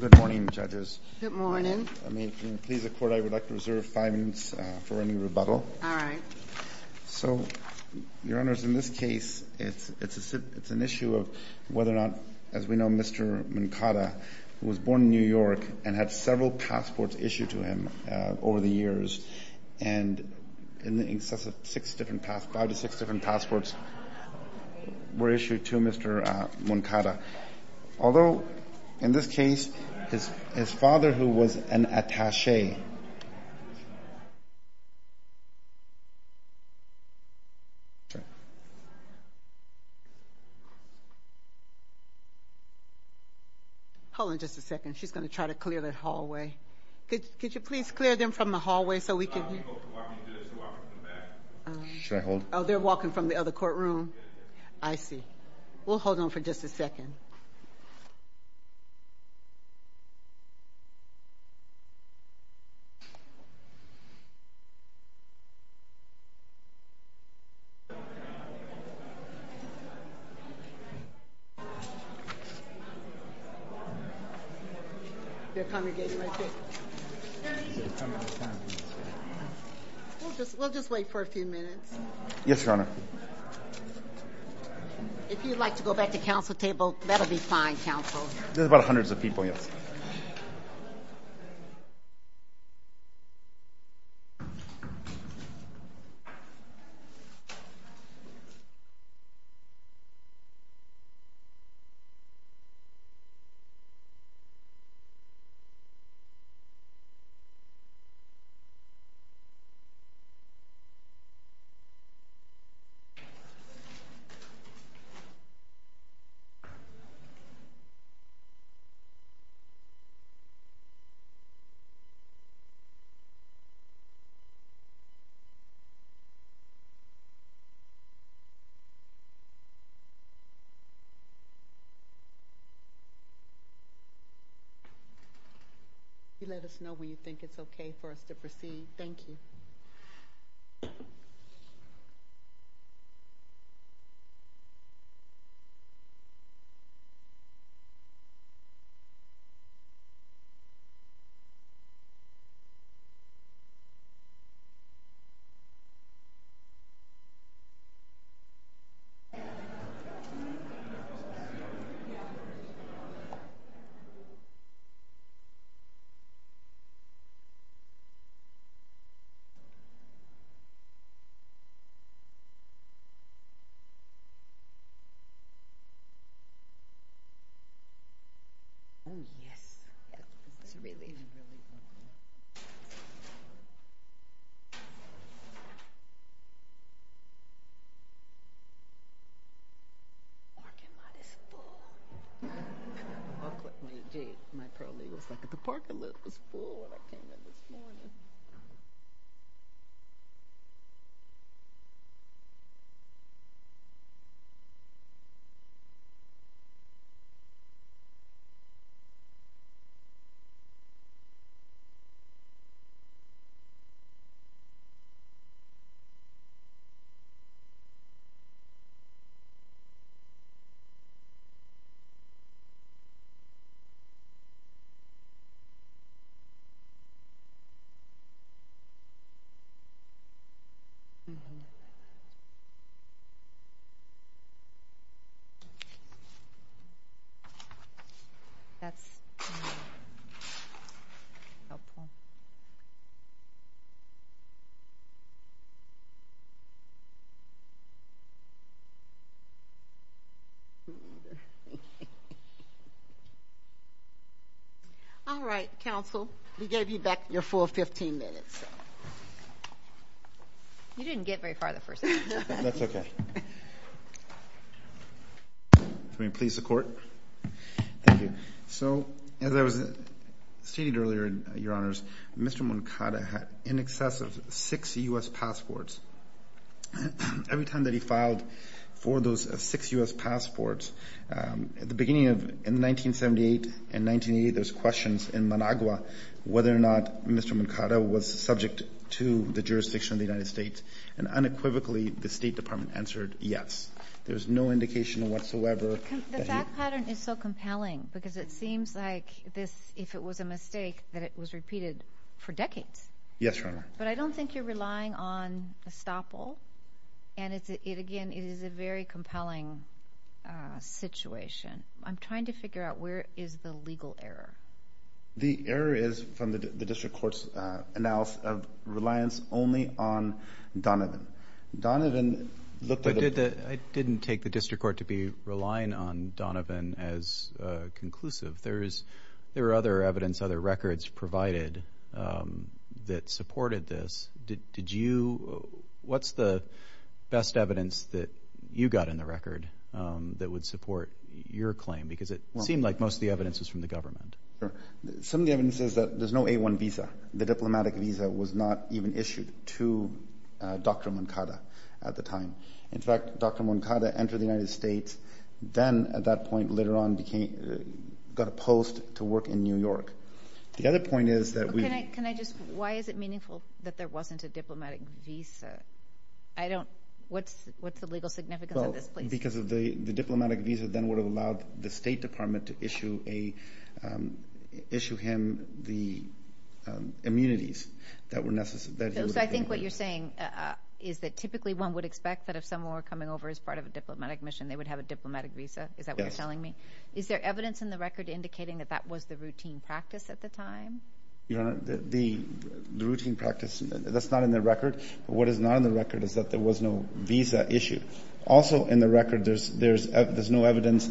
Good morning, Judges. Good morning. I would like to reserve five minutes for any rebuttal. All right. So, Your Honors, in this case, it's an issue of whether or not, as we know, Mr. Moncada was born in New York and had several passports issued to him over the years. And five to six different passports were issued to Mr. Moncada. Although, in this case, his father, who was an attaché. Hold on just a second. She's going to try to clear the hallway. Could you please clear them from the hallway so we can hear? Oh, they're walking from the other courtroom. I see. We'll hold on for just a second. We'll just wait for a few minutes. Yes, Your Honor. If you'd like to go back to counsel table, that'll be fine, counsel. There's about hundreds of people. You let us know when you think it's okay for us to proceed. Thank you. Oh, yes. It's really... The parking lot is full. That's helpful. All right, counsel. We gave you back your full 15 minutes. You didn't get very far the first time. That's okay. Can we please the court? Thank you. As I stated earlier, Your Honors, Mr. Moncada had in excess of six U.S. passports. Every time that he filed for those six U.S. passports, at the beginning of 1978 and 1980, there's questions in Managua whether or not Mr. Moncada was subject to the jurisdiction of the United States, and unequivocally, the State Department answered yes. There's no indication whatsoever that he... That pattern is so compelling because it seems like this, if it was a mistake, that it was repeated for decades. Yes, Your Honor. But I don't think you're relying on estoppel, and again, it is a very compelling situation. I'm trying to figure out where is the legal error. The error is from the district court's analysis of reliance only on Donovan. I didn't take the district court to be relying on Donovan as conclusive. There were other evidence, other records provided that supported this. What's the best evidence that you got in the record that would support your claim? Because it seemed like most of the evidence was from the government. Some of the evidence says that there's no A-1 visa. The diplomatic visa was not even issued to Dr. Moncada at the time. In fact, Dr. Moncada entered the United States, then at that point later on got a post to work in New York. The other point is that we... Can I just, why is it meaningful that there wasn't a diplomatic visa? I don't, what's the legal significance of this? Because the diplomatic visa then would have allowed the State Department to issue him the immunities that were necessary. So I think what you're saying is that typically one would expect that if someone were coming over as part of a diplomatic mission, they would have a diplomatic visa, is that what you're telling me? Yes. Is there evidence in the record indicating that that was the routine practice at the time? Your Honor, the routine practice, that's not in the record. What is not in the record is that there was no visa issued. Also in the record, there's no evidence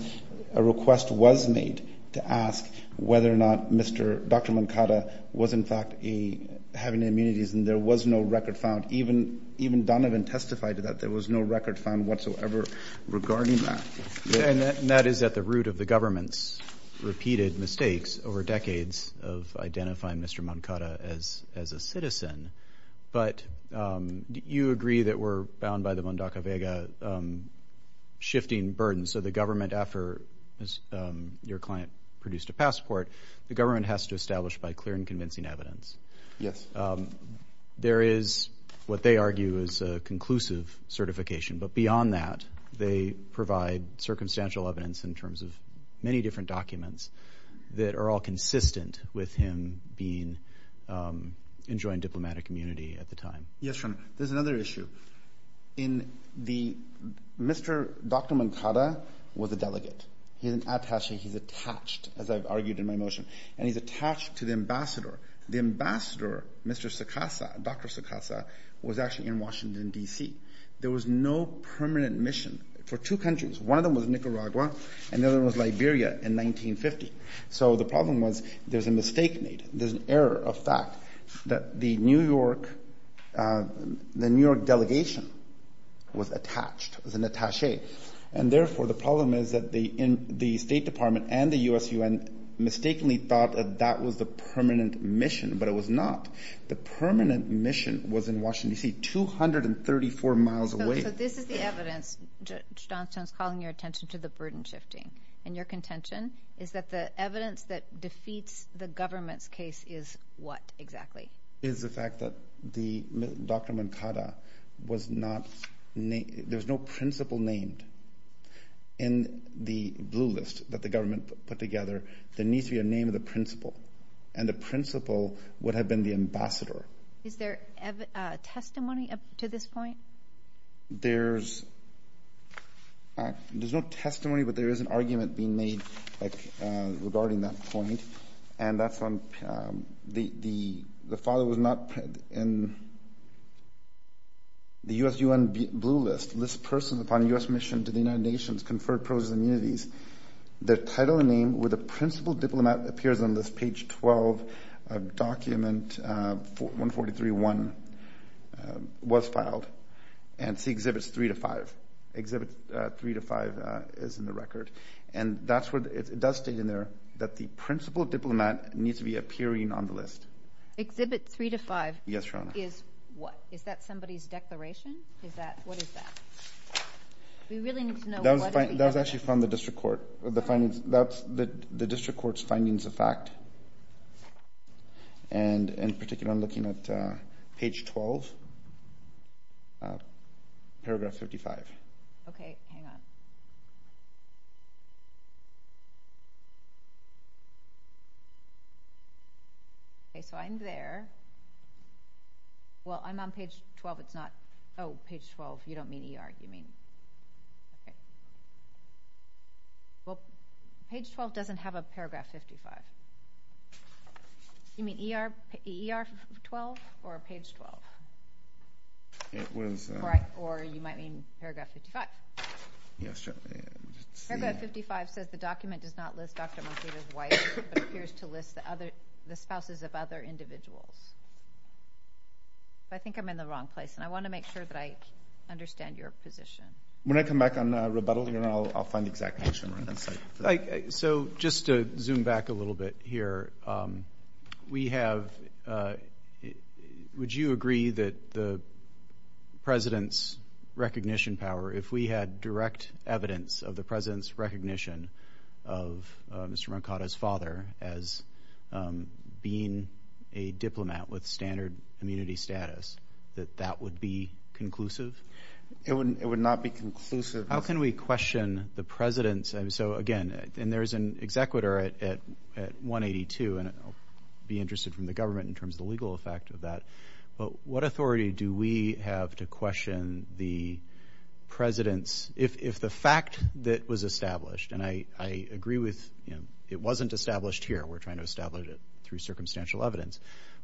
a request was made to ask whether or not Dr. Moncada was in fact having immunities, and there was no record found. Even Donovan testified that there was no record found whatsoever regarding that. And that is at the root of the government's repeated mistakes over decades of identifying Mr. Moncada as a citizen. But you agree that we're bound by the Mundaka Vega shifting burdens. So the government, after your client produced a passport, the government has to establish by clear and convincing evidence. Yes. There is what they argue is a conclusive certification. But beyond that, they provide circumstantial evidence in terms of many different documents that are all consistent with him enjoying diplomatic immunity at the time. Yes, Your Honor. There's another issue. Dr. Moncada was a delegate. He's an attache. He's attached, as I've argued in my motion. And he's attached to the ambassador. The ambassador, Mr. Sakasa, Dr. Sakasa, was actually in Washington, D.C. There was no permanent mission for two countries. One of them was Nicaragua, and the other one was Liberia in 1950. So the problem was there's a mistake made. There's an error of fact that the New York delegation was attached, was an attache. And therefore, the problem is that the State Department and the USUN mistakenly thought that that was the permanent mission. But it was not. The permanent mission was in Washington, D.C., 234 miles away. So this is the evidence, Judge Johnstone's calling your attention to the burden shifting. And your contention is that the evidence that defeats the government's case is what exactly? Is the fact that Dr. Moncada was not named. There was no principal named in the blue list that the government put together. There needs to be a name of the principal. And the principal would have been the ambassador. Is there testimony to this point? There's no testimony, but there is an argument being made regarding that point. And that's on the file that was not in the USUN blue list. List persons upon U.S. mission to the United Nations conferred privileges and immunities. The title and name where the principal diplomat appears on this page 12 document 143.1 was filed. And see Exhibits 3 to 5. Exhibits 3 to 5 is in the record. And it does state in there that the principal diplomat needs to be appearing on the list. Exhibit 3 to 5 is what? Is that somebody's declaration? What is that? That was actually from the district court. The district court's findings of fact. And in particular, I'm looking at page 12, paragraph 55. Okay, hang on. Okay, so I'm there. Well, I'm on page 12. Oh, page 12. You don't mean ER, do you mean? Okay. Well, page 12 doesn't have a paragraph 55. Do you mean ER 12 or page 12? Or you might mean paragraph 55. Yes. Paragraph 55 says the document does not list Dr. Moncada's wife, but appears to list the spouses of other individuals. I think I'm in the wrong place. And I want to make sure that I understand your position. When I come back on rebuttal, I'll find the exact question. So just to zoom back a little bit here, we have – would you agree that the President's recognition power, if we had direct evidence of the President's recognition of Mr. Moncada's father as being a diplomat with standard immunity status, that that would be conclusive? It would not be conclusive. How can we question the President's – so, again, and there's an executor at 182, and I'll be interested from the government in terms of the legal effect of that. But what authority do we have to question the President's – if the fact that was established, and I agree with – it wasn't established here. We're trying to establish it through circumstantial evidence.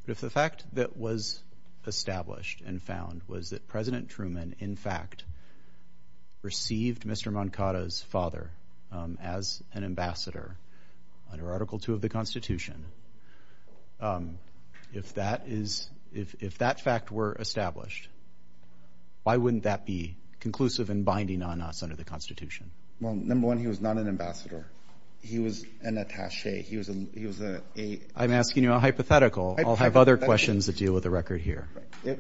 But if the fact that was established and found was that President Truman, in fact, received Mr. Moncada's father as an ambassador under Article II of the Constitution, if that is – if that fact were established, why wouldn't that be conclusive and binding on us under the Constitution? Well, number one, he was not an ambassador. He was an attache. He was a – I'm asking you a hypothetical. I'll have other questions that deal with the record here.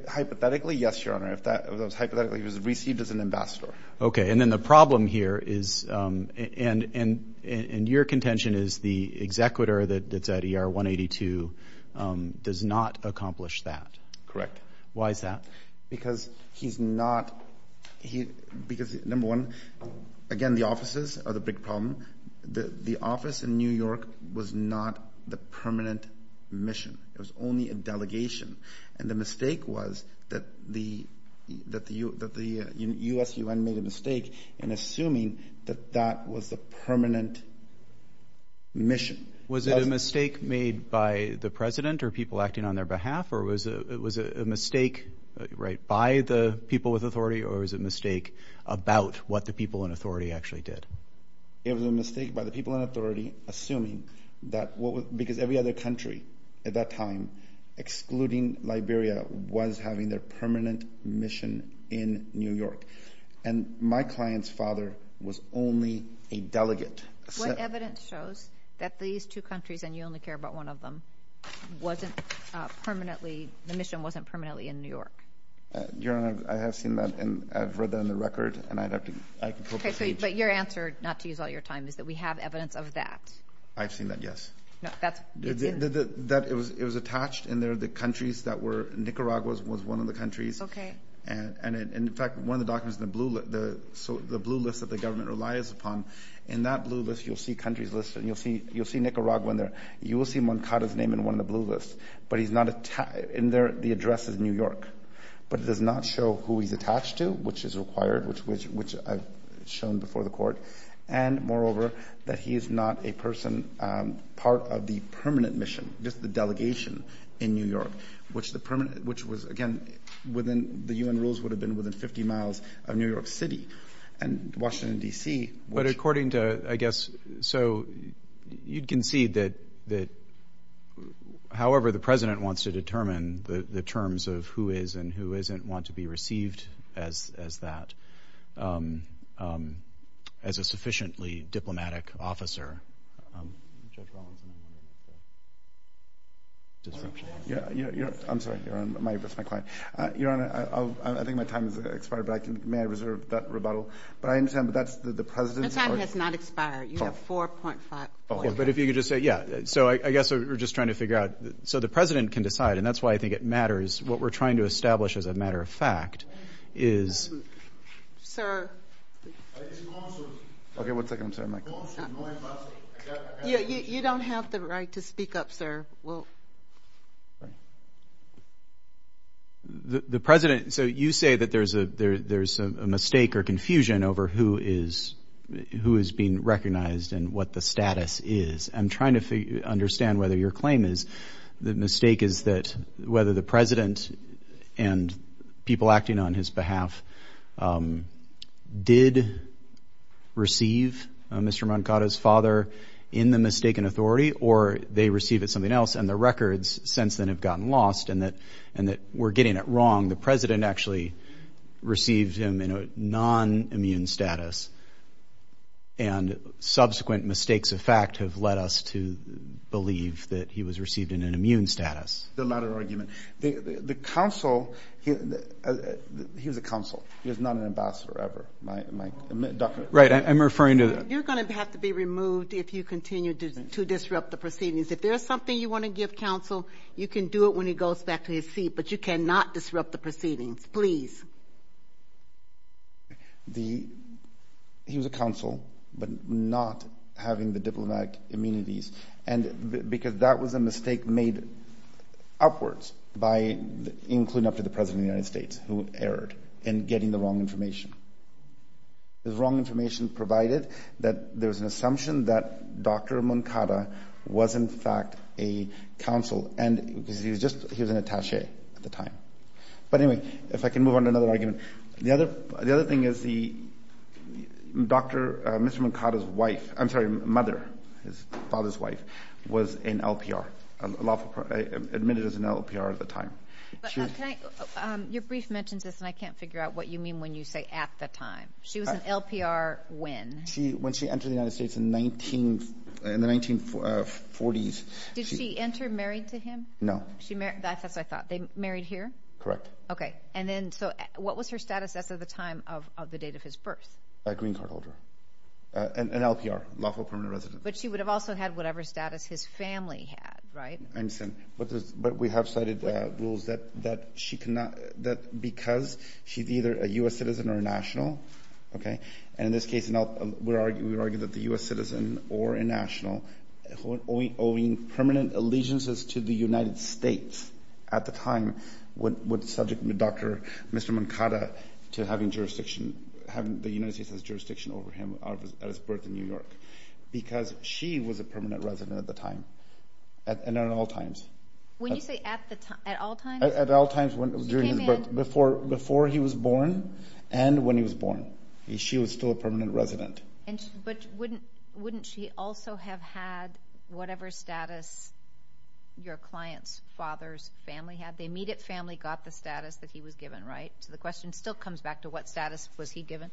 Hypothetically, yes, Your Honor. If that was hypothetically, he was received as an ambassador. Okay. And then the problem here is – and your contention is the executor that's at ER 182 does not accomplish that. Correct. Why is that? Because he's not – because, number one, again, the offices are the big problem. The office in New York was not the permanent mission. It was only a delegation. And the mistake was that the USUN made a mistake in assuming that that was the permanent mission. Was it a mistake made by the President or people acting on their behalf, or was it a mistake by the people with authority, or was it a mistake about what the people in authority actually did? It was a mistake by the people in authority assuming that – because every other country at that time, excluding Liberia, was having their permanent mission in New York. And my client's father was only a delegate. What evidence shows that these two countries – the mission wasn't permanently in New York? Your Honor, I have seen that, and I've read that on the record, and I'd have to – Okay, but your answer, not to use all your time, is that we have evidence of that. I've seen that, yes. No, that's – It was attached in there, the countries that were – Nicaragua was one of the countries. Okay. And, in fact, one of the documents in the blue – the blue list that the government relies upon, in that blue list you'll see countries listed, and you'll see Nicaragua in there. You will see Moncada's name in one of the blue lists. But he's not – in there the address is New York, but it does not show who he's attached to, which is required, which I've shown before the Court, and, moreover, that he is not a person part of the permanent mission, just the delegation in New York, which the permanent – which was, again, within – the UN rules would have been within 50 miles of New York City, and Washington, D.C. But according to, I guess – so you'd concede that, however the President wants to determine the terms of who is and who isn't, want to be received as that, as a sufficiently diplomatic officer. Judge Rawlinson. I'm sorry, Your Honor. That's my client. Your Honor, I think my time has expired, but may I reserve that rebuttal? But I understand that the President – Your time has not expired. You have 4.5 minutes. But if you could just say – yeah. So I guess we're just trying to figure out – so the President can decide, and that's why I think it matters what we're trying to establish as a matter of fact is – Sir. Okay, one second. I'm sorry, Mike. You don't have the right to speak up, sir. Well – The President – so you say that there's a mistake or confusion over who is being recognized and what the status is. I'm trying to understand whether your claim is the mistake is that whether the President and people acting on his behalf did receive Mr. Mankato's father in the mistaken authority or they received it something else and the records since then have gotten lost and that we're getting it wrong. The President actually received him in a non-immune status, and subsequent mistakes of fact have led us to believe that he was received in an immune status. The latter argument. The counsel – he was a counsel. He was not an ambassador ever. Right, I'm referring to the – You're going to have to be removed if you continue to disrupt the proceedings. If there's something you want to give counsel, you can do it when he goes back to his seat, but you cannot disrupt the proceedings, please. He was a counsel but not having the diplomatic immunities because that was a mistake made upwards by including up to the President of the United States who erred in getting the wrong information. The wrong information provided that there was an assumption that Dr. Mankato was in fact a counsel because he was an attache at the time. But anyway, if I can move on to another argument. The other thing is the Dr. – Mr. Mankato's wife – I'm sorry, mother, his father's wife, was in LPR, admitted as an LPR at the time. Your brief mentions this and I can't figure out what you mean when you say at the time. She was an LPR when? When she entered the United States in the 1940s. Did she enter married to him? No. That's what I thought. They married here? Correct. Okay. And then so what was her status as of the time of the date of his birth? A green card holder. An LPR, lawful permanent resident. But she would have also had whatever status his family had, right? I understand. But we have cited rules that because she's either a U.S. citizen or a national, and in this case we would argue that the U.S. citizen or a national owing permanent allegiances to the United States at the time would subject Dr. – Mr. Mankato to having jurisdiction – the United States has jurisdiction over him at his birth in New York because she was a permanent resident at the time and at all times. When you say at all times? At all times before he was born and when he was born. She was still a permanent resident. But wouldn't she also have had whatever status your client's father's family had? The immediate family got the status that he was given, right? So the question still comes back to what status was he given?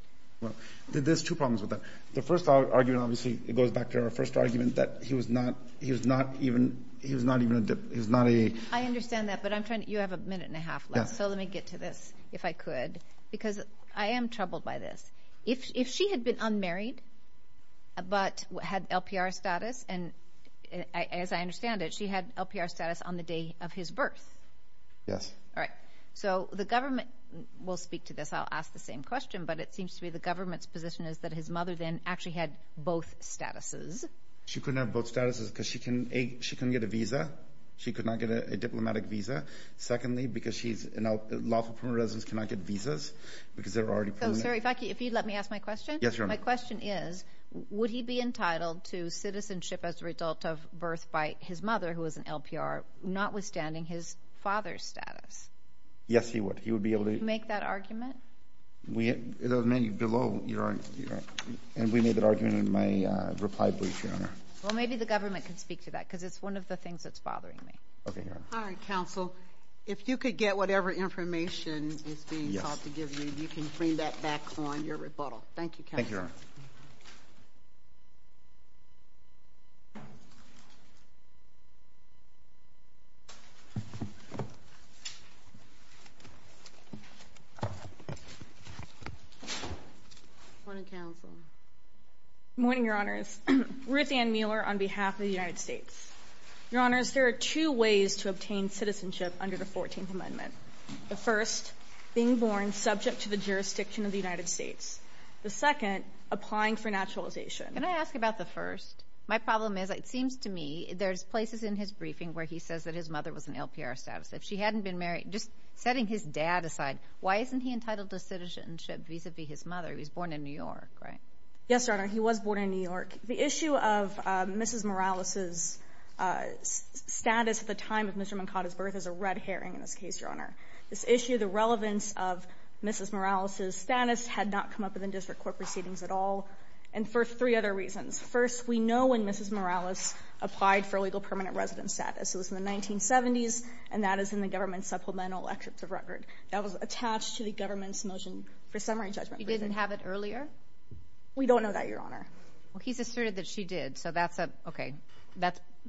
There's two problems with that. The first argument obviously goes back to our first argument that he was not even a dip– I understand that, but you have a minute and a half left, so let me get to this if I could because I am troubled by this. If she had been unmarried but had LPR status, and as I understand it, she had LPR status on the day of his birth. Yes. All right. So the government will speak to this. I'll ask the same question, but it seems to me the government's position is that his mother then actually had both statuses. She couldn't have both statuses because she couldn't get a visa. She could not get a diplomatic visa. Secondly, because she's a lawful permanent resident, she cannot get visas because they're already permanent. So, sir, if you'd let me ask my question? Yes, Your Honor. My question is would he be entitled to citizenship as a result of birth by his mother, who was an LPR, notwithstanding his father's status? Yes, he would. He would be able to make that argument? The menu below, Your Honor, and we made that argument in my reply brief, Your Honor. Well, maybe the government can speak to that because it's one of the things that's bothering me. Okay, Your Honor. All right, counsel. If you could get whatever information is being sought to give you, you can bring that back on your rebuttal. Thank you, counsel. Thank you, Your Honor. Good morning, counsel. Good morning, Your Honors. Ruthann Mueller on behalf of the United States. Your Honors, there are two ways to obtain citizenship under the 14th Amendment. The first, being born subject to the jurisdiction of the United States. The second, applying for naturalization. Can I ask about the first? My problem is it seems to me there's places in his briefing where he says that his mother was an LPR status. If she hadn't been married, just setting his dad aside, why isn't he entitled to citizenship vis-a-vis his mother? He was born in New York, right? Yes, Your Honor. He was born in New York. The issue of Mrs. Morales' status at the time of Mr. Moncada's birth is a red herring in this case, Your Honor. This issue, the relevance of Mrs. Morales' status, had not come up in the district court proceedings at all, and for three other reasons. First, we know when Mrs. Morales applied for legal permanent residence status. It was in the 1970s, and that is in the government supplemental extract of record. That was attached to the government's motion for summary judgment. He didn't have it earlier? We don't know that, Your Honor. Well, he's asserted that she did, so that's a, okay.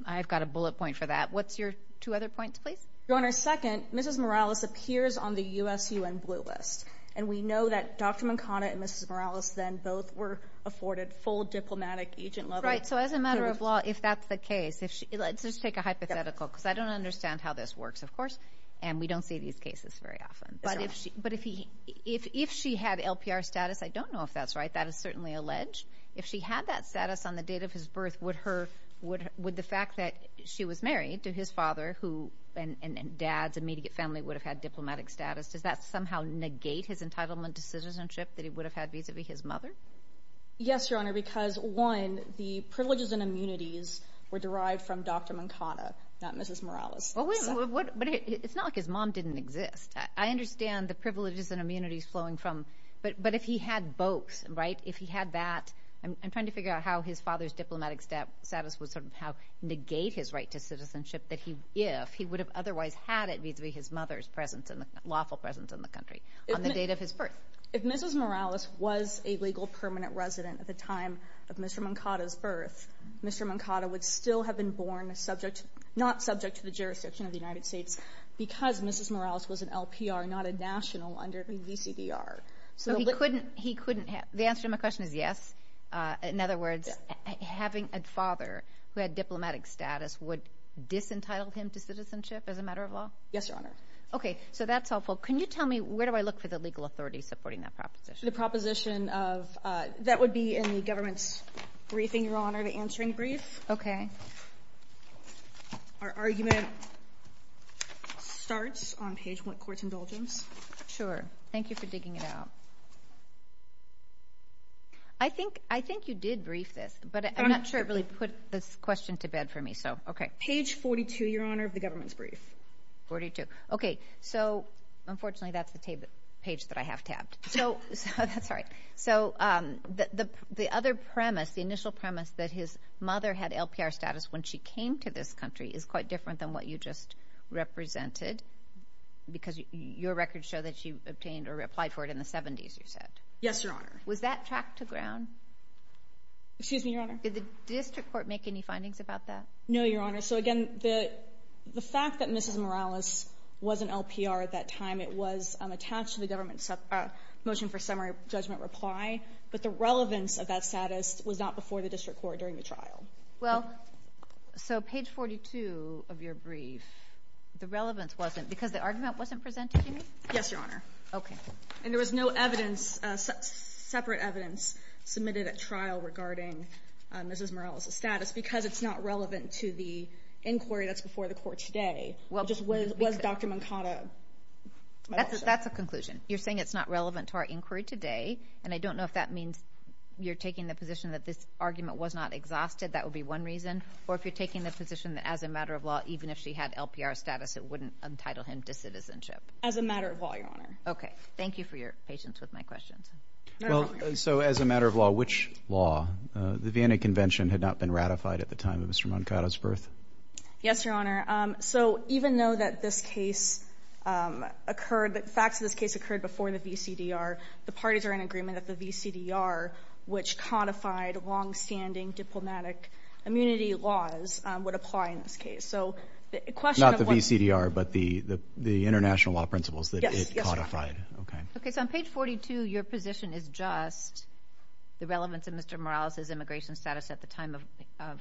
I've got a bullet point for that. What's your two other points, please? Your Honor, second, Mrs. Morales appears on the USUN blue list, and we know that Dr. Moncada and Mrs. Morales then both were afforded full diplomatic agent levels. Right, so as a matter of law, if that's the case, let's just take a hypothetical. Because I don't understand how this works, of course, and we don't see these cases very often. But if she had LPR status, I don't know if that's right. That is certainly alleged. If she had that status on the date of his birth, would the fact that she was married to his father, and dad's immediate family would have had diplomatic status, does that somehow negate his entitlement to citizenship that he would have had vis-a-vis his mother? Yes, Your Honor, because, one, the privileges and immunities were derived from Dr. Moncada, not Mrs. Morales. But it's not like his mom didn't exist. I understand the privileges and immunities flowing from, but if he had both, right, if he had that, I'm trying to figure out how his father's diplomatic status would somehow negate his right to citizenship if he would have otherwise had it vis-a-vis his mother's lawful presence in the country on the date of his birth. If Mrs. Morales was a legal permanent resident at the time of Mr. Moncada's birth, Mr. Moncada would still have been born not subject to the jurisdiction of the United States because Mrs. Morales was an LPR, not a national under the VCDR. So he couldn't have. The answer to my question is yes. In other words, having a father who had diplomatic status would disentitle him to citizenship as a matter of law? Yes, Your Honor. Okay, so that's helpful. Can you tell me where do I look for the legal authority supporting that proposition? That would be in the government's briefing, Your Honor, the answering brief. Okay. Our argument starts on page 1, Courts Indulgence. Sure. Thank you for digging it out. I think you did brief this, but I'm not sure it really put this question to bed for me, so okay. Page 42, Your Honor, of the government's brief. 42. Okay, so unfortunately that's the page that I have tabbed. Sorry. So the other premise, the initial premise that his mother had LPR status when she came to this country is quite different than what you just represented because your records show that she obtained or applied for it in the 70s, you said. Yes, Your Honor. Was that tracked to ground? Excuse me, Your Honor? Did the district court make any findings about that? No, Your Honor. So again, the fact that Mrs. Morales was an LPR at that time, it was attached to the government's motion for summary judgment reply, but the relevance of that status was not before the district court during the trial. Well, so page 42 of your brief, the relevance wasn't because the argument wasn't presented to you? Yes, Your Honor. Okay. And there was no evidence, separate evidence submitted at trial regarding Mrs. Morales' status because it's not relevant to the inquiry that's before the court today? Just was Dr. Mankata? That's a conclusion. You're saying it's not relevant to our inquiry today, and I don't know if that means you're taking the position that this argument was not exhausted. That would be one reason. Or if you're taking the position that as a matter of law, even if she had LPR status, it wouldn't entitle him to citizenship? As a matter of law, Your Honor. Okay. Thank you for your patience with my questions. So as a matter of law, which law? The Vienna Convention had not been ratified at the time of Mr. Mankata's birth? Yes, Your Honor. So even though that this case occurred, the facts of this case occurred before the VCDR, the parties are in agreement that the VCDR, which codified longstanding diplomatic immunity laws, would apply in this case. Not the VCDR, but the international law principles that it codified. Okay. So on page 42, your position is just the relevance of Mr. Morales' immigration status at the time of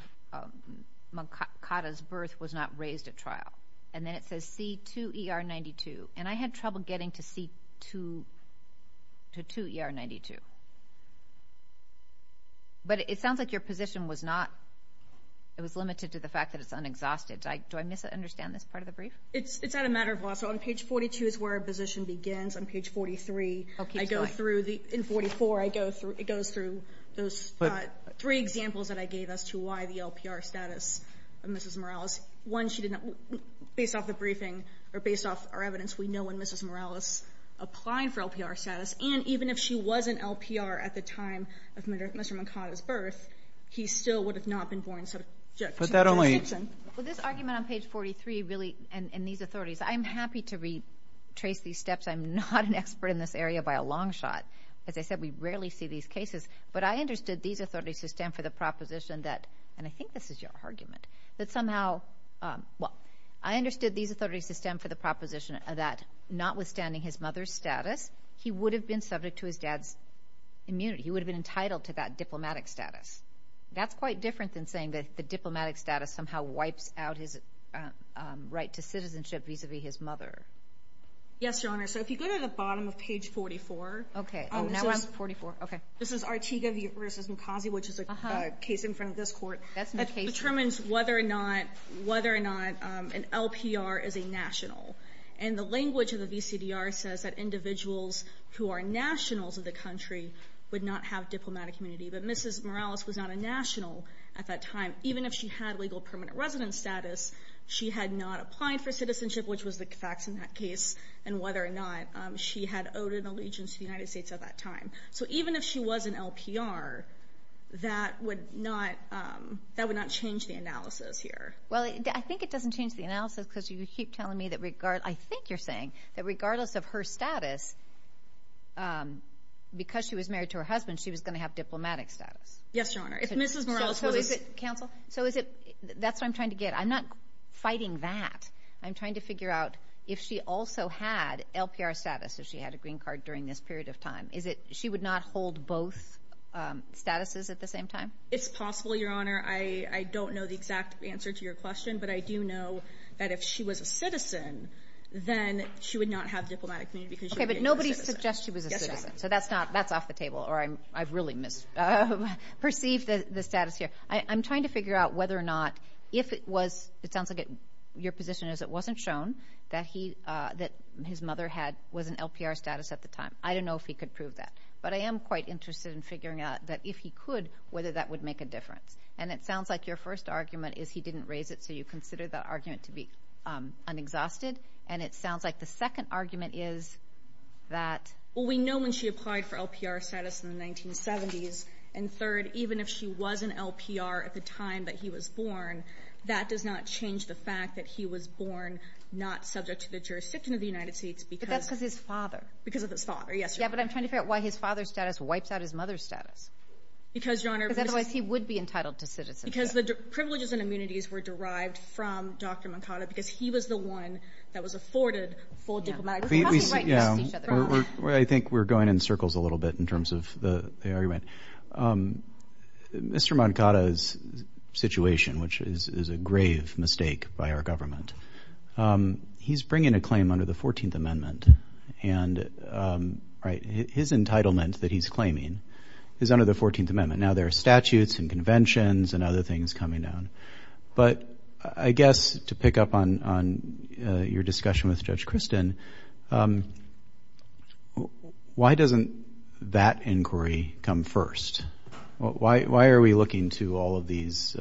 Mankata's birth was not raised at trial. And then it says C-2ER-92. And I had trouble getting to C-2ER-92. But it sounds like your position was not, it was limited to the fact that it's unexhausted. Do I misunderstand this part of the brief? It's a matter of law. So on page 42 is where our position begins. On page 43, I go through the, in 44, I go through, it goes through those three examples that I gave as to why the LPR status of Mrs. Morales. One, she did not, based off the briefing or based off our evidence, we know when Mrs. Morales applied for LPR status. And even if she wasn't LPR at the time of Mr. Mankata's birth, he still would have not been born instead of Jackson. Well, this argument on page 43 really, and these authorities, I'm happy to retrace these steps. I'm not an expert in this area by a long shot. As I said, we rarely see these cases. But I understood these authorities to stand for the proposition that, and I think this is your argument, that somehow, well, I understood these authorities to stand for the proposition that notwithstanding his mother's status, he would have been subject to his dad's immunity. He would have been entitled to that diplomatic status. That's quite different than saying that the diplomatic status somehow wipes out his right to citizenship vis-a-vis his mother. Yes, Your Honor. So if you go to the bottom of page 44. Okay. This is Artiga v. Mkazi, which is a case in front of this court. That determines whether or not an LPR is a national. And the language of the VCDR says that individuals who are nationals of the country would not have diplomatic immunity. But Mrs. Morales was not a national at that time. Even if she had legal permanent residence status, she had not applied for citizenship, which was the facts in that case, and whether or not she had owed an allegiance to the United States at that time. So even if she was an LPR, that would not change the analysis here. Well, I think it doesn't change the analysis because you keep telling me that regardless, I think you're saying that regardless of her status, because she was married to her husband, she was going to have diplomatic status. Yes, Your Honor. If Mrs. Morales was a citizen. Counsel, that's what I'm trying to get at. I'm not fighting that. I'm trying to figure out if she also had LPR status, if she had a green card during this period of time. She would not hold both statuses at the same time? It's possible, Your Honor. I don't know the exact answer to your question, but I do know that if she was a citizen, then she would not have diplomatic immunity because she would be a US citizen. Okay, but nobody suggests she was a citizen. Yes, Your Honor. So that's off the table, or I've really misperceived the status here. I'm trying to figure out whether or not if it was, it sounds like your position is it wasn't shown, that his mother was in LPR status at the time. I don't know if he could prove that, but I am quite interested in figuring out that if he could, whether that would make a difference. And it sounds like your first argument is he didn't raise it, so you consider that argument to be unexhausted. And it sounds like the second argument is that… Well, we know when she applied for LPR status in the 1970s, and third, even if she was in LPR at the time that he was born, that does not change the fact that he was born not subject to the jurisdiction of the United States because… But that's because of his father. Because of his father, yes. Yeah, but I'm trying to figure out why his father's status wipes out his mother's status. Because, Your Honor… Because otherwise he would be entitled to citizenship. Because the privileges and immunities were derived from Dr. Mercado because he was the one that was afforded full diplomatic immunity. I think we're going in circles a little bit in terms of the argument. Mr. Mercado's situation, which is a grave mistake by our government, he's bringing a claim under the 14th Amendment, and his entitlement that he's claiming is under the 14th Amendment. Now there are statutes and conventions and other things coming down. But I guess to pick up on your discussion with Judge Christin, why doesn't that inquiry come first? Why are we looking to all of these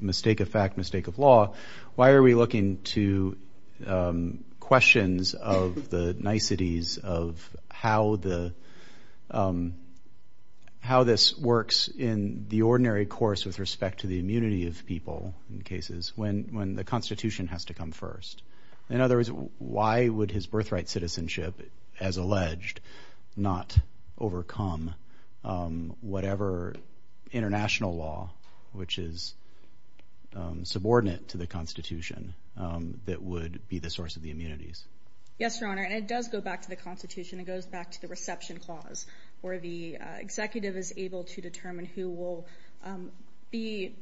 mistake of fact, mistake of law? Why are we looking to questions of the niceties of how this works in the ordinary course with respect to the immunity of people in cases when the Constitution has to come first? In other words, why would his birthright citizenship, as alleged, not overcome whatever international law which is subordinate to the Constitution that would be the source of the immunities? Yes, Your Honor, and it does go back to the Constitution. It goes back to the reception clause where the executive is able to determine who will be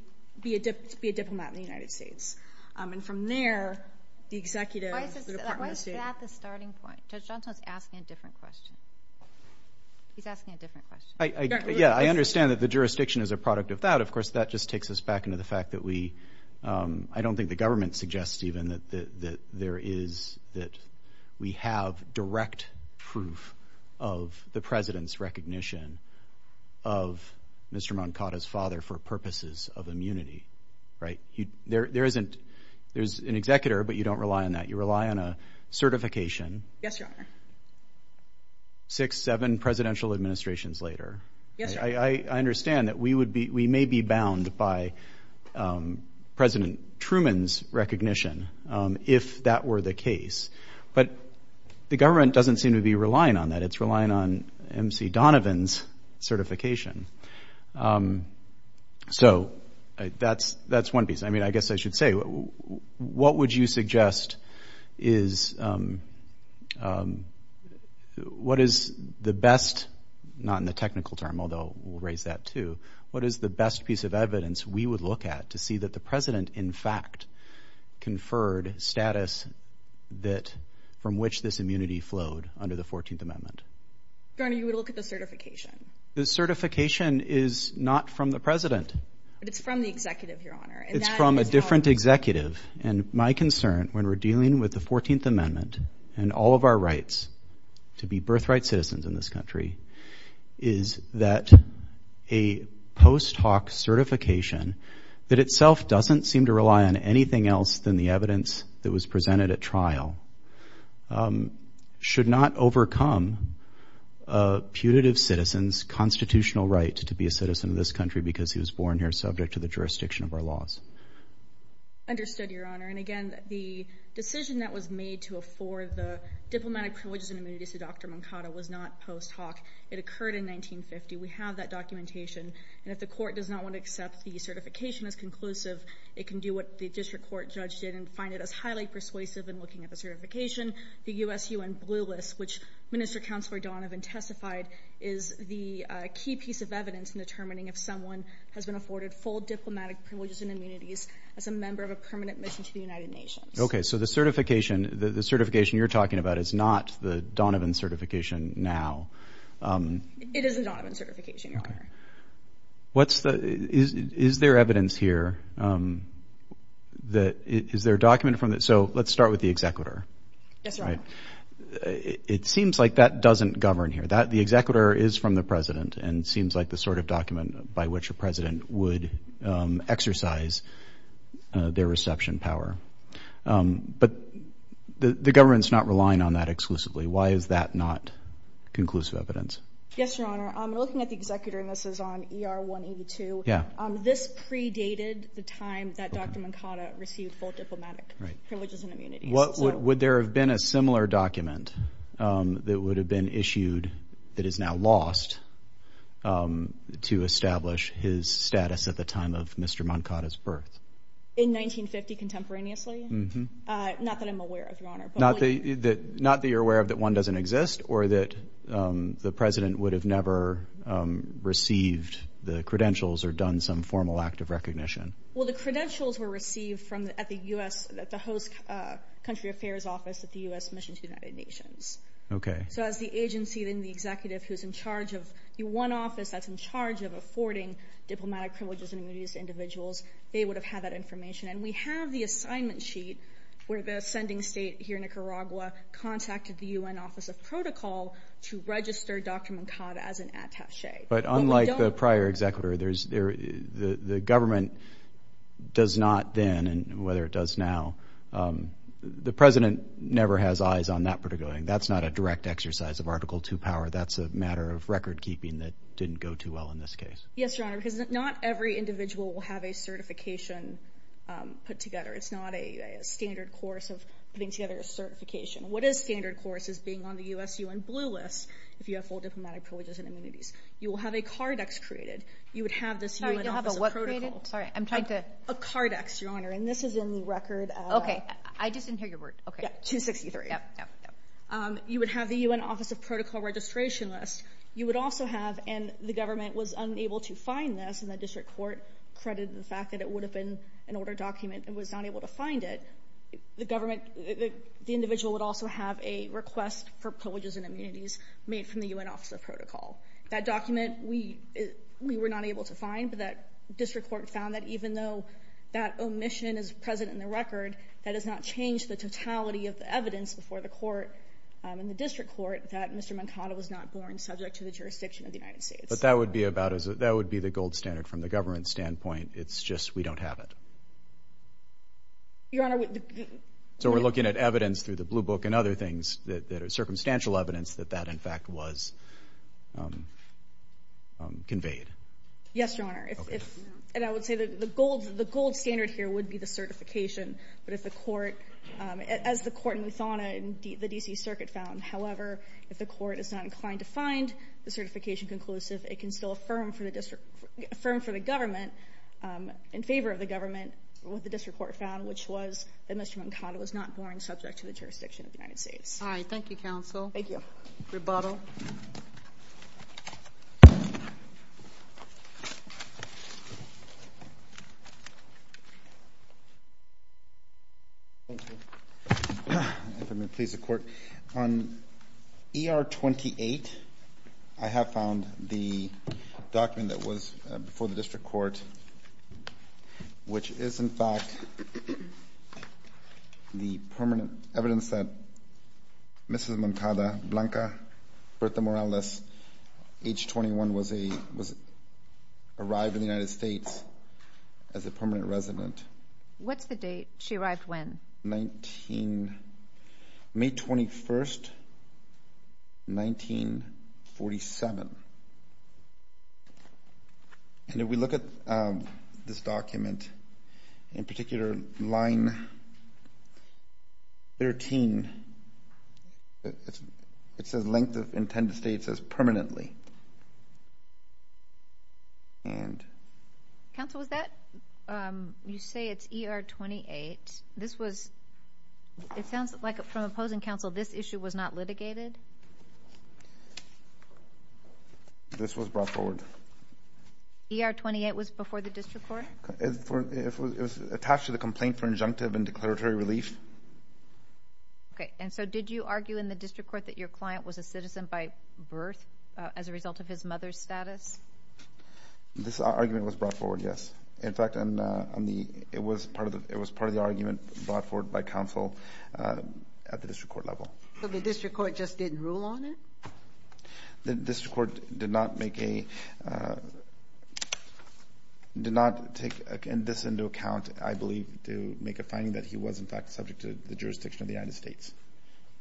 a diplomat in the United States. And from there, the executive, the Department of State— Why is that the starting point? Judge Johnson's asking a different question. He's asking a different question. Yeah, I understand that the jurisdiction is a product of that. Of course, that just takes us back into the fact that we— I don't think the government suggests even that there is— that we have direct proof of the president's recognition of Mr. Mankata's father for purposes of immunity, right? There isn't—there's an executor, but you don't rely on that. You rely on a certification. Yes, Your Honor. Six, seven presidential administrations later. Yes, Your Honor. I understand that we may be bound by President Truman's recognition if that were the case, but the government doesn't seem to be relying on that. It's relying on M.C. Donovan's certification. So that's one piece. I mean, I guess I should say, what would you suggest is— what is the best—not in the technical term, although we'll raise that too— what is the best piece of evidence we would look at to see that the president in fact conferred status that— from which this immunity flowed under the 14th Amendment? Your Honor, you would look at the certification. The certification is not from the president. But it's from the executive, Your Honor. It's from a different executive. And my concern when we're dealing with the 14th Amendment and all of our rights to be birthright citizens in this country is that a post hoc certification that itself doesn't seem to rely on anything else than the evidence that was presented at trial should not overcome a putative citizen's constitutional right to be a citizen of this country because he was born here subject to the jurisdiction of our laws. Understood, Your Honor. And again, the decision that was made to afford the diplomatic privileges and immunities to Dr. Moncada was not post hoc. It occurred in 1950. We have that documentation. And if the court does not want to accept the certification as conclusive, it can do what the district court judge did and find it as highly persuasive in looking at the certification. The USUN blue list, which Minister Counselor Donovan testified, is the key piece of evidence in determining if someone has been afforded full diplomatic privileges and immunities as a member of a permanent mission to the United Nations. Okay, so the certification you're talking about is not the Donovan certification now. It is a Donovan certification, Your Honor. Is there evidence here that is there a document from that? So let's start with the executor. Yes, Your Honor. It seems like that doesn't govern here. The executor is from the president and seems like the sort of document by which a president would exercise their reception power. But the government's not relying on that exclusively. Why is that not conclusive evidence? Yes, Your Honor. We're looking at the executor, and this is on ER 182. This predated the time that Dr. Mankata received full diplomatic privileges and immunities. Would there have been a similar document that would have been issued that is now lost to establish his status at the time of Mr. Mankata's birth? In 1950 contemporaneously? Not that I'm aware of, Your Honor. Not that you're aware of that one doesn't exist or that the president would have never received the credentials or done some formal act of recognition? Well, the credentials were received at the host country affairs office at the U.S. Mission to the United Nations. Okay. So as the agency and the executive who's in charge of the one office that's in charge of affording diplomatic privileges and immunities to individuals, they would have had that information. And we have the assignment sheet where the sending state here in Nicaragua contacted the U.N. Office of Protocol to register Dr. Mankata as an attache. But unlike the prior executor, the government does not then, whether it does now, the president never has eyes on that particular thing. That's not a direct exercise of Article II power. That's a matter of recordkeeping that didn't go too well in this case. Yes, Your Honor, because not every individual will have a certification put together. It's not a standard course of putting together a certification. What is standard course is being on the U.S. U.N. blue list if you have full diplomatic privileges and immunities. You will have a cardex created. You would have this U.N. Office of Protocol. Sorry, you'll have a what created? Sorry, I'm trying to. A cardex, Your Honor, and this is in the record. Okay. I just didn't hear your word. Okay. 263. Yep, yep, yep. You would have the U.N. Office of Protocol registration list. You would also have, and the government was unable to find this, and the district court credited the fact that it would have been an ordered document and was not able to find it. The individual would also have a request for privileges and immunities made from the U.N. Office of Protocol. That document we were not able to find, but that district court found that even though that omission is present in the record, that does not change the totality of the evidence before the court and the district court that Mr. Mankato was not born subject to the jurisdiction of the United States. But that would be the gold standard from the government standpoint. It's just we don't have it. Your Honor. So we're looking at evidence through the Blue Book and other things that are circumstantial evidence that that, in fact, was conveyed. Yes, Your Honor. And I would say that the gold standard here would be the certification, but if the court, as the court in Luthana and the D.C. Circuit found, however, if the court is not inclined to find the certification conclusive, it can still affirm for the government, in favor of the government, what the district court found, which was that Mr. Mankato was not born subject to the jurisdiction of the United States. All right. Thank you, counsel. Thank you. Rebuttal. If I may please the court. On ER-28, I have found the document that was before the district court, which is, in fact, the permanent evidence that Mrs. Mankato, Blanca Bertha Morales, age 21, was arrived in the United States as a permanent resident. What's the date? She arrived when? May 21, 1947. And if we look at this document, in particular, line 13, it says length of intended stay, it says permanently. Counsel, was that, you say it's ER-28. This was, it sounds like from opposing counsel, this issue was not litigated. This was brought forward. ER-28 was before the district court? It was attached to the complaint for injunctive and declaratory relief. Okay. And so did you argue in the district court that your client was a citizen by birth as a result of his mother's status? This argument was brought forward, yes. In fact, it was part of the argument brought forward by counsel at the district court level. So the district court just didn't rule on it? The district court did not make a, did not take this into account, I believe, to make a finding that he was, in fact, subject to the jurisdiction of the United States.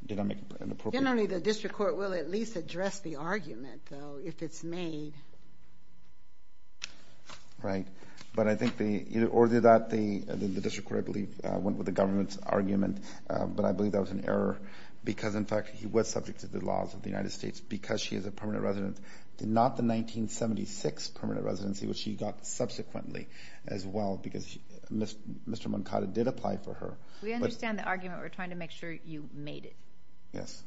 Did I make an appropriate? Generally, the district court will at least address the argument, though, if it's made. Right. But I think the, or that the district court, I believe, went with the government's argument, but I believe that was an error because, in fact, he was subject to the laws of the United States because she is a permanent resident, not the 1976 permanent residency, which she got subsequently as well because Mr. Moncada did apply for her. We understand the argument. We're trying to make sure you made it. Yes.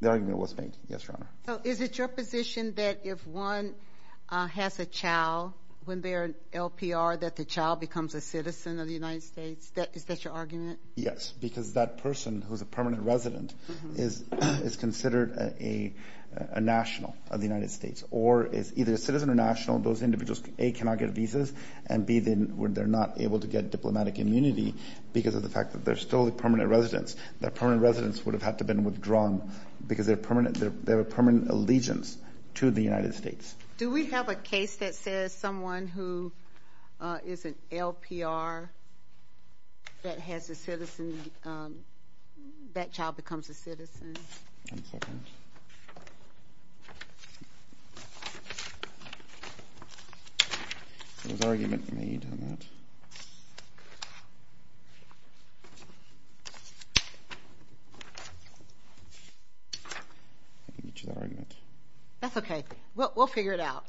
The argument was made. Yes, Your Honor. So is it your position that if one has a child, when they're in LPR, that the child becomes a citizen of the United States? Is that your argument? Yes, because that person who's a permanent resident is considered a national of the United States or is either a citizen or national. Those individuals, A, cannot get visas, and, B, they're not able to get diplomatic immunity because of the fact that they're still a permanent residence. Their permanent residence would have had to have been withdrawn because they have a permanent allegiance to the United States. Do we have a case that says someone who is an LPR that has a citizen, that child becomes a citizen? One second. There was an argument made on that. That's okay. We'll figure it out.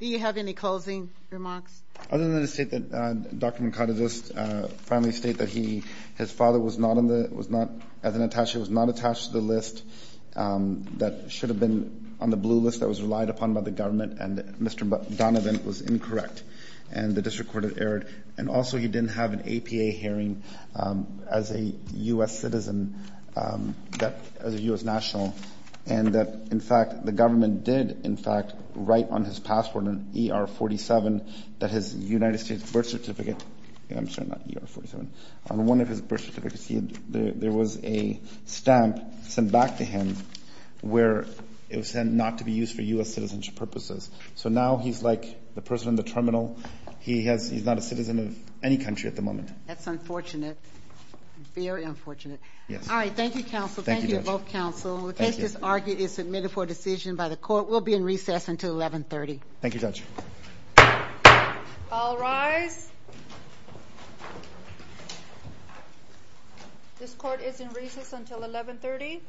Do you have any closing remarks? Other than to state that Dr. McCarty just finally state that his father was not, as an attache, was not attached to the list that should have been on the blue list that was relied upon by the government and Mr. Donovan was incorrect and the district court had erred, and also he didn't have an APA hearing as a U.S. citizen, as a U.S. national, and that, in fact, the government did, in fact, write on his passport an ER-47 that his United States birth certificate, I'm sorry, not ER-47, on one of his birth certificates there was a stamp sent back to him where it was said not to be used for U.S. citizenship purposes. So now he's like the person in the terminal. He's not a citizen of any country at the moment. That's unfortunate, very unfortunate. Yes. All right, thank you, counsel. Thank you to both counsel. The case is argued and submitted for decision by the court. We'll be in recess until 1130. Thank you, judge. All rise. This court is in recess until 1130.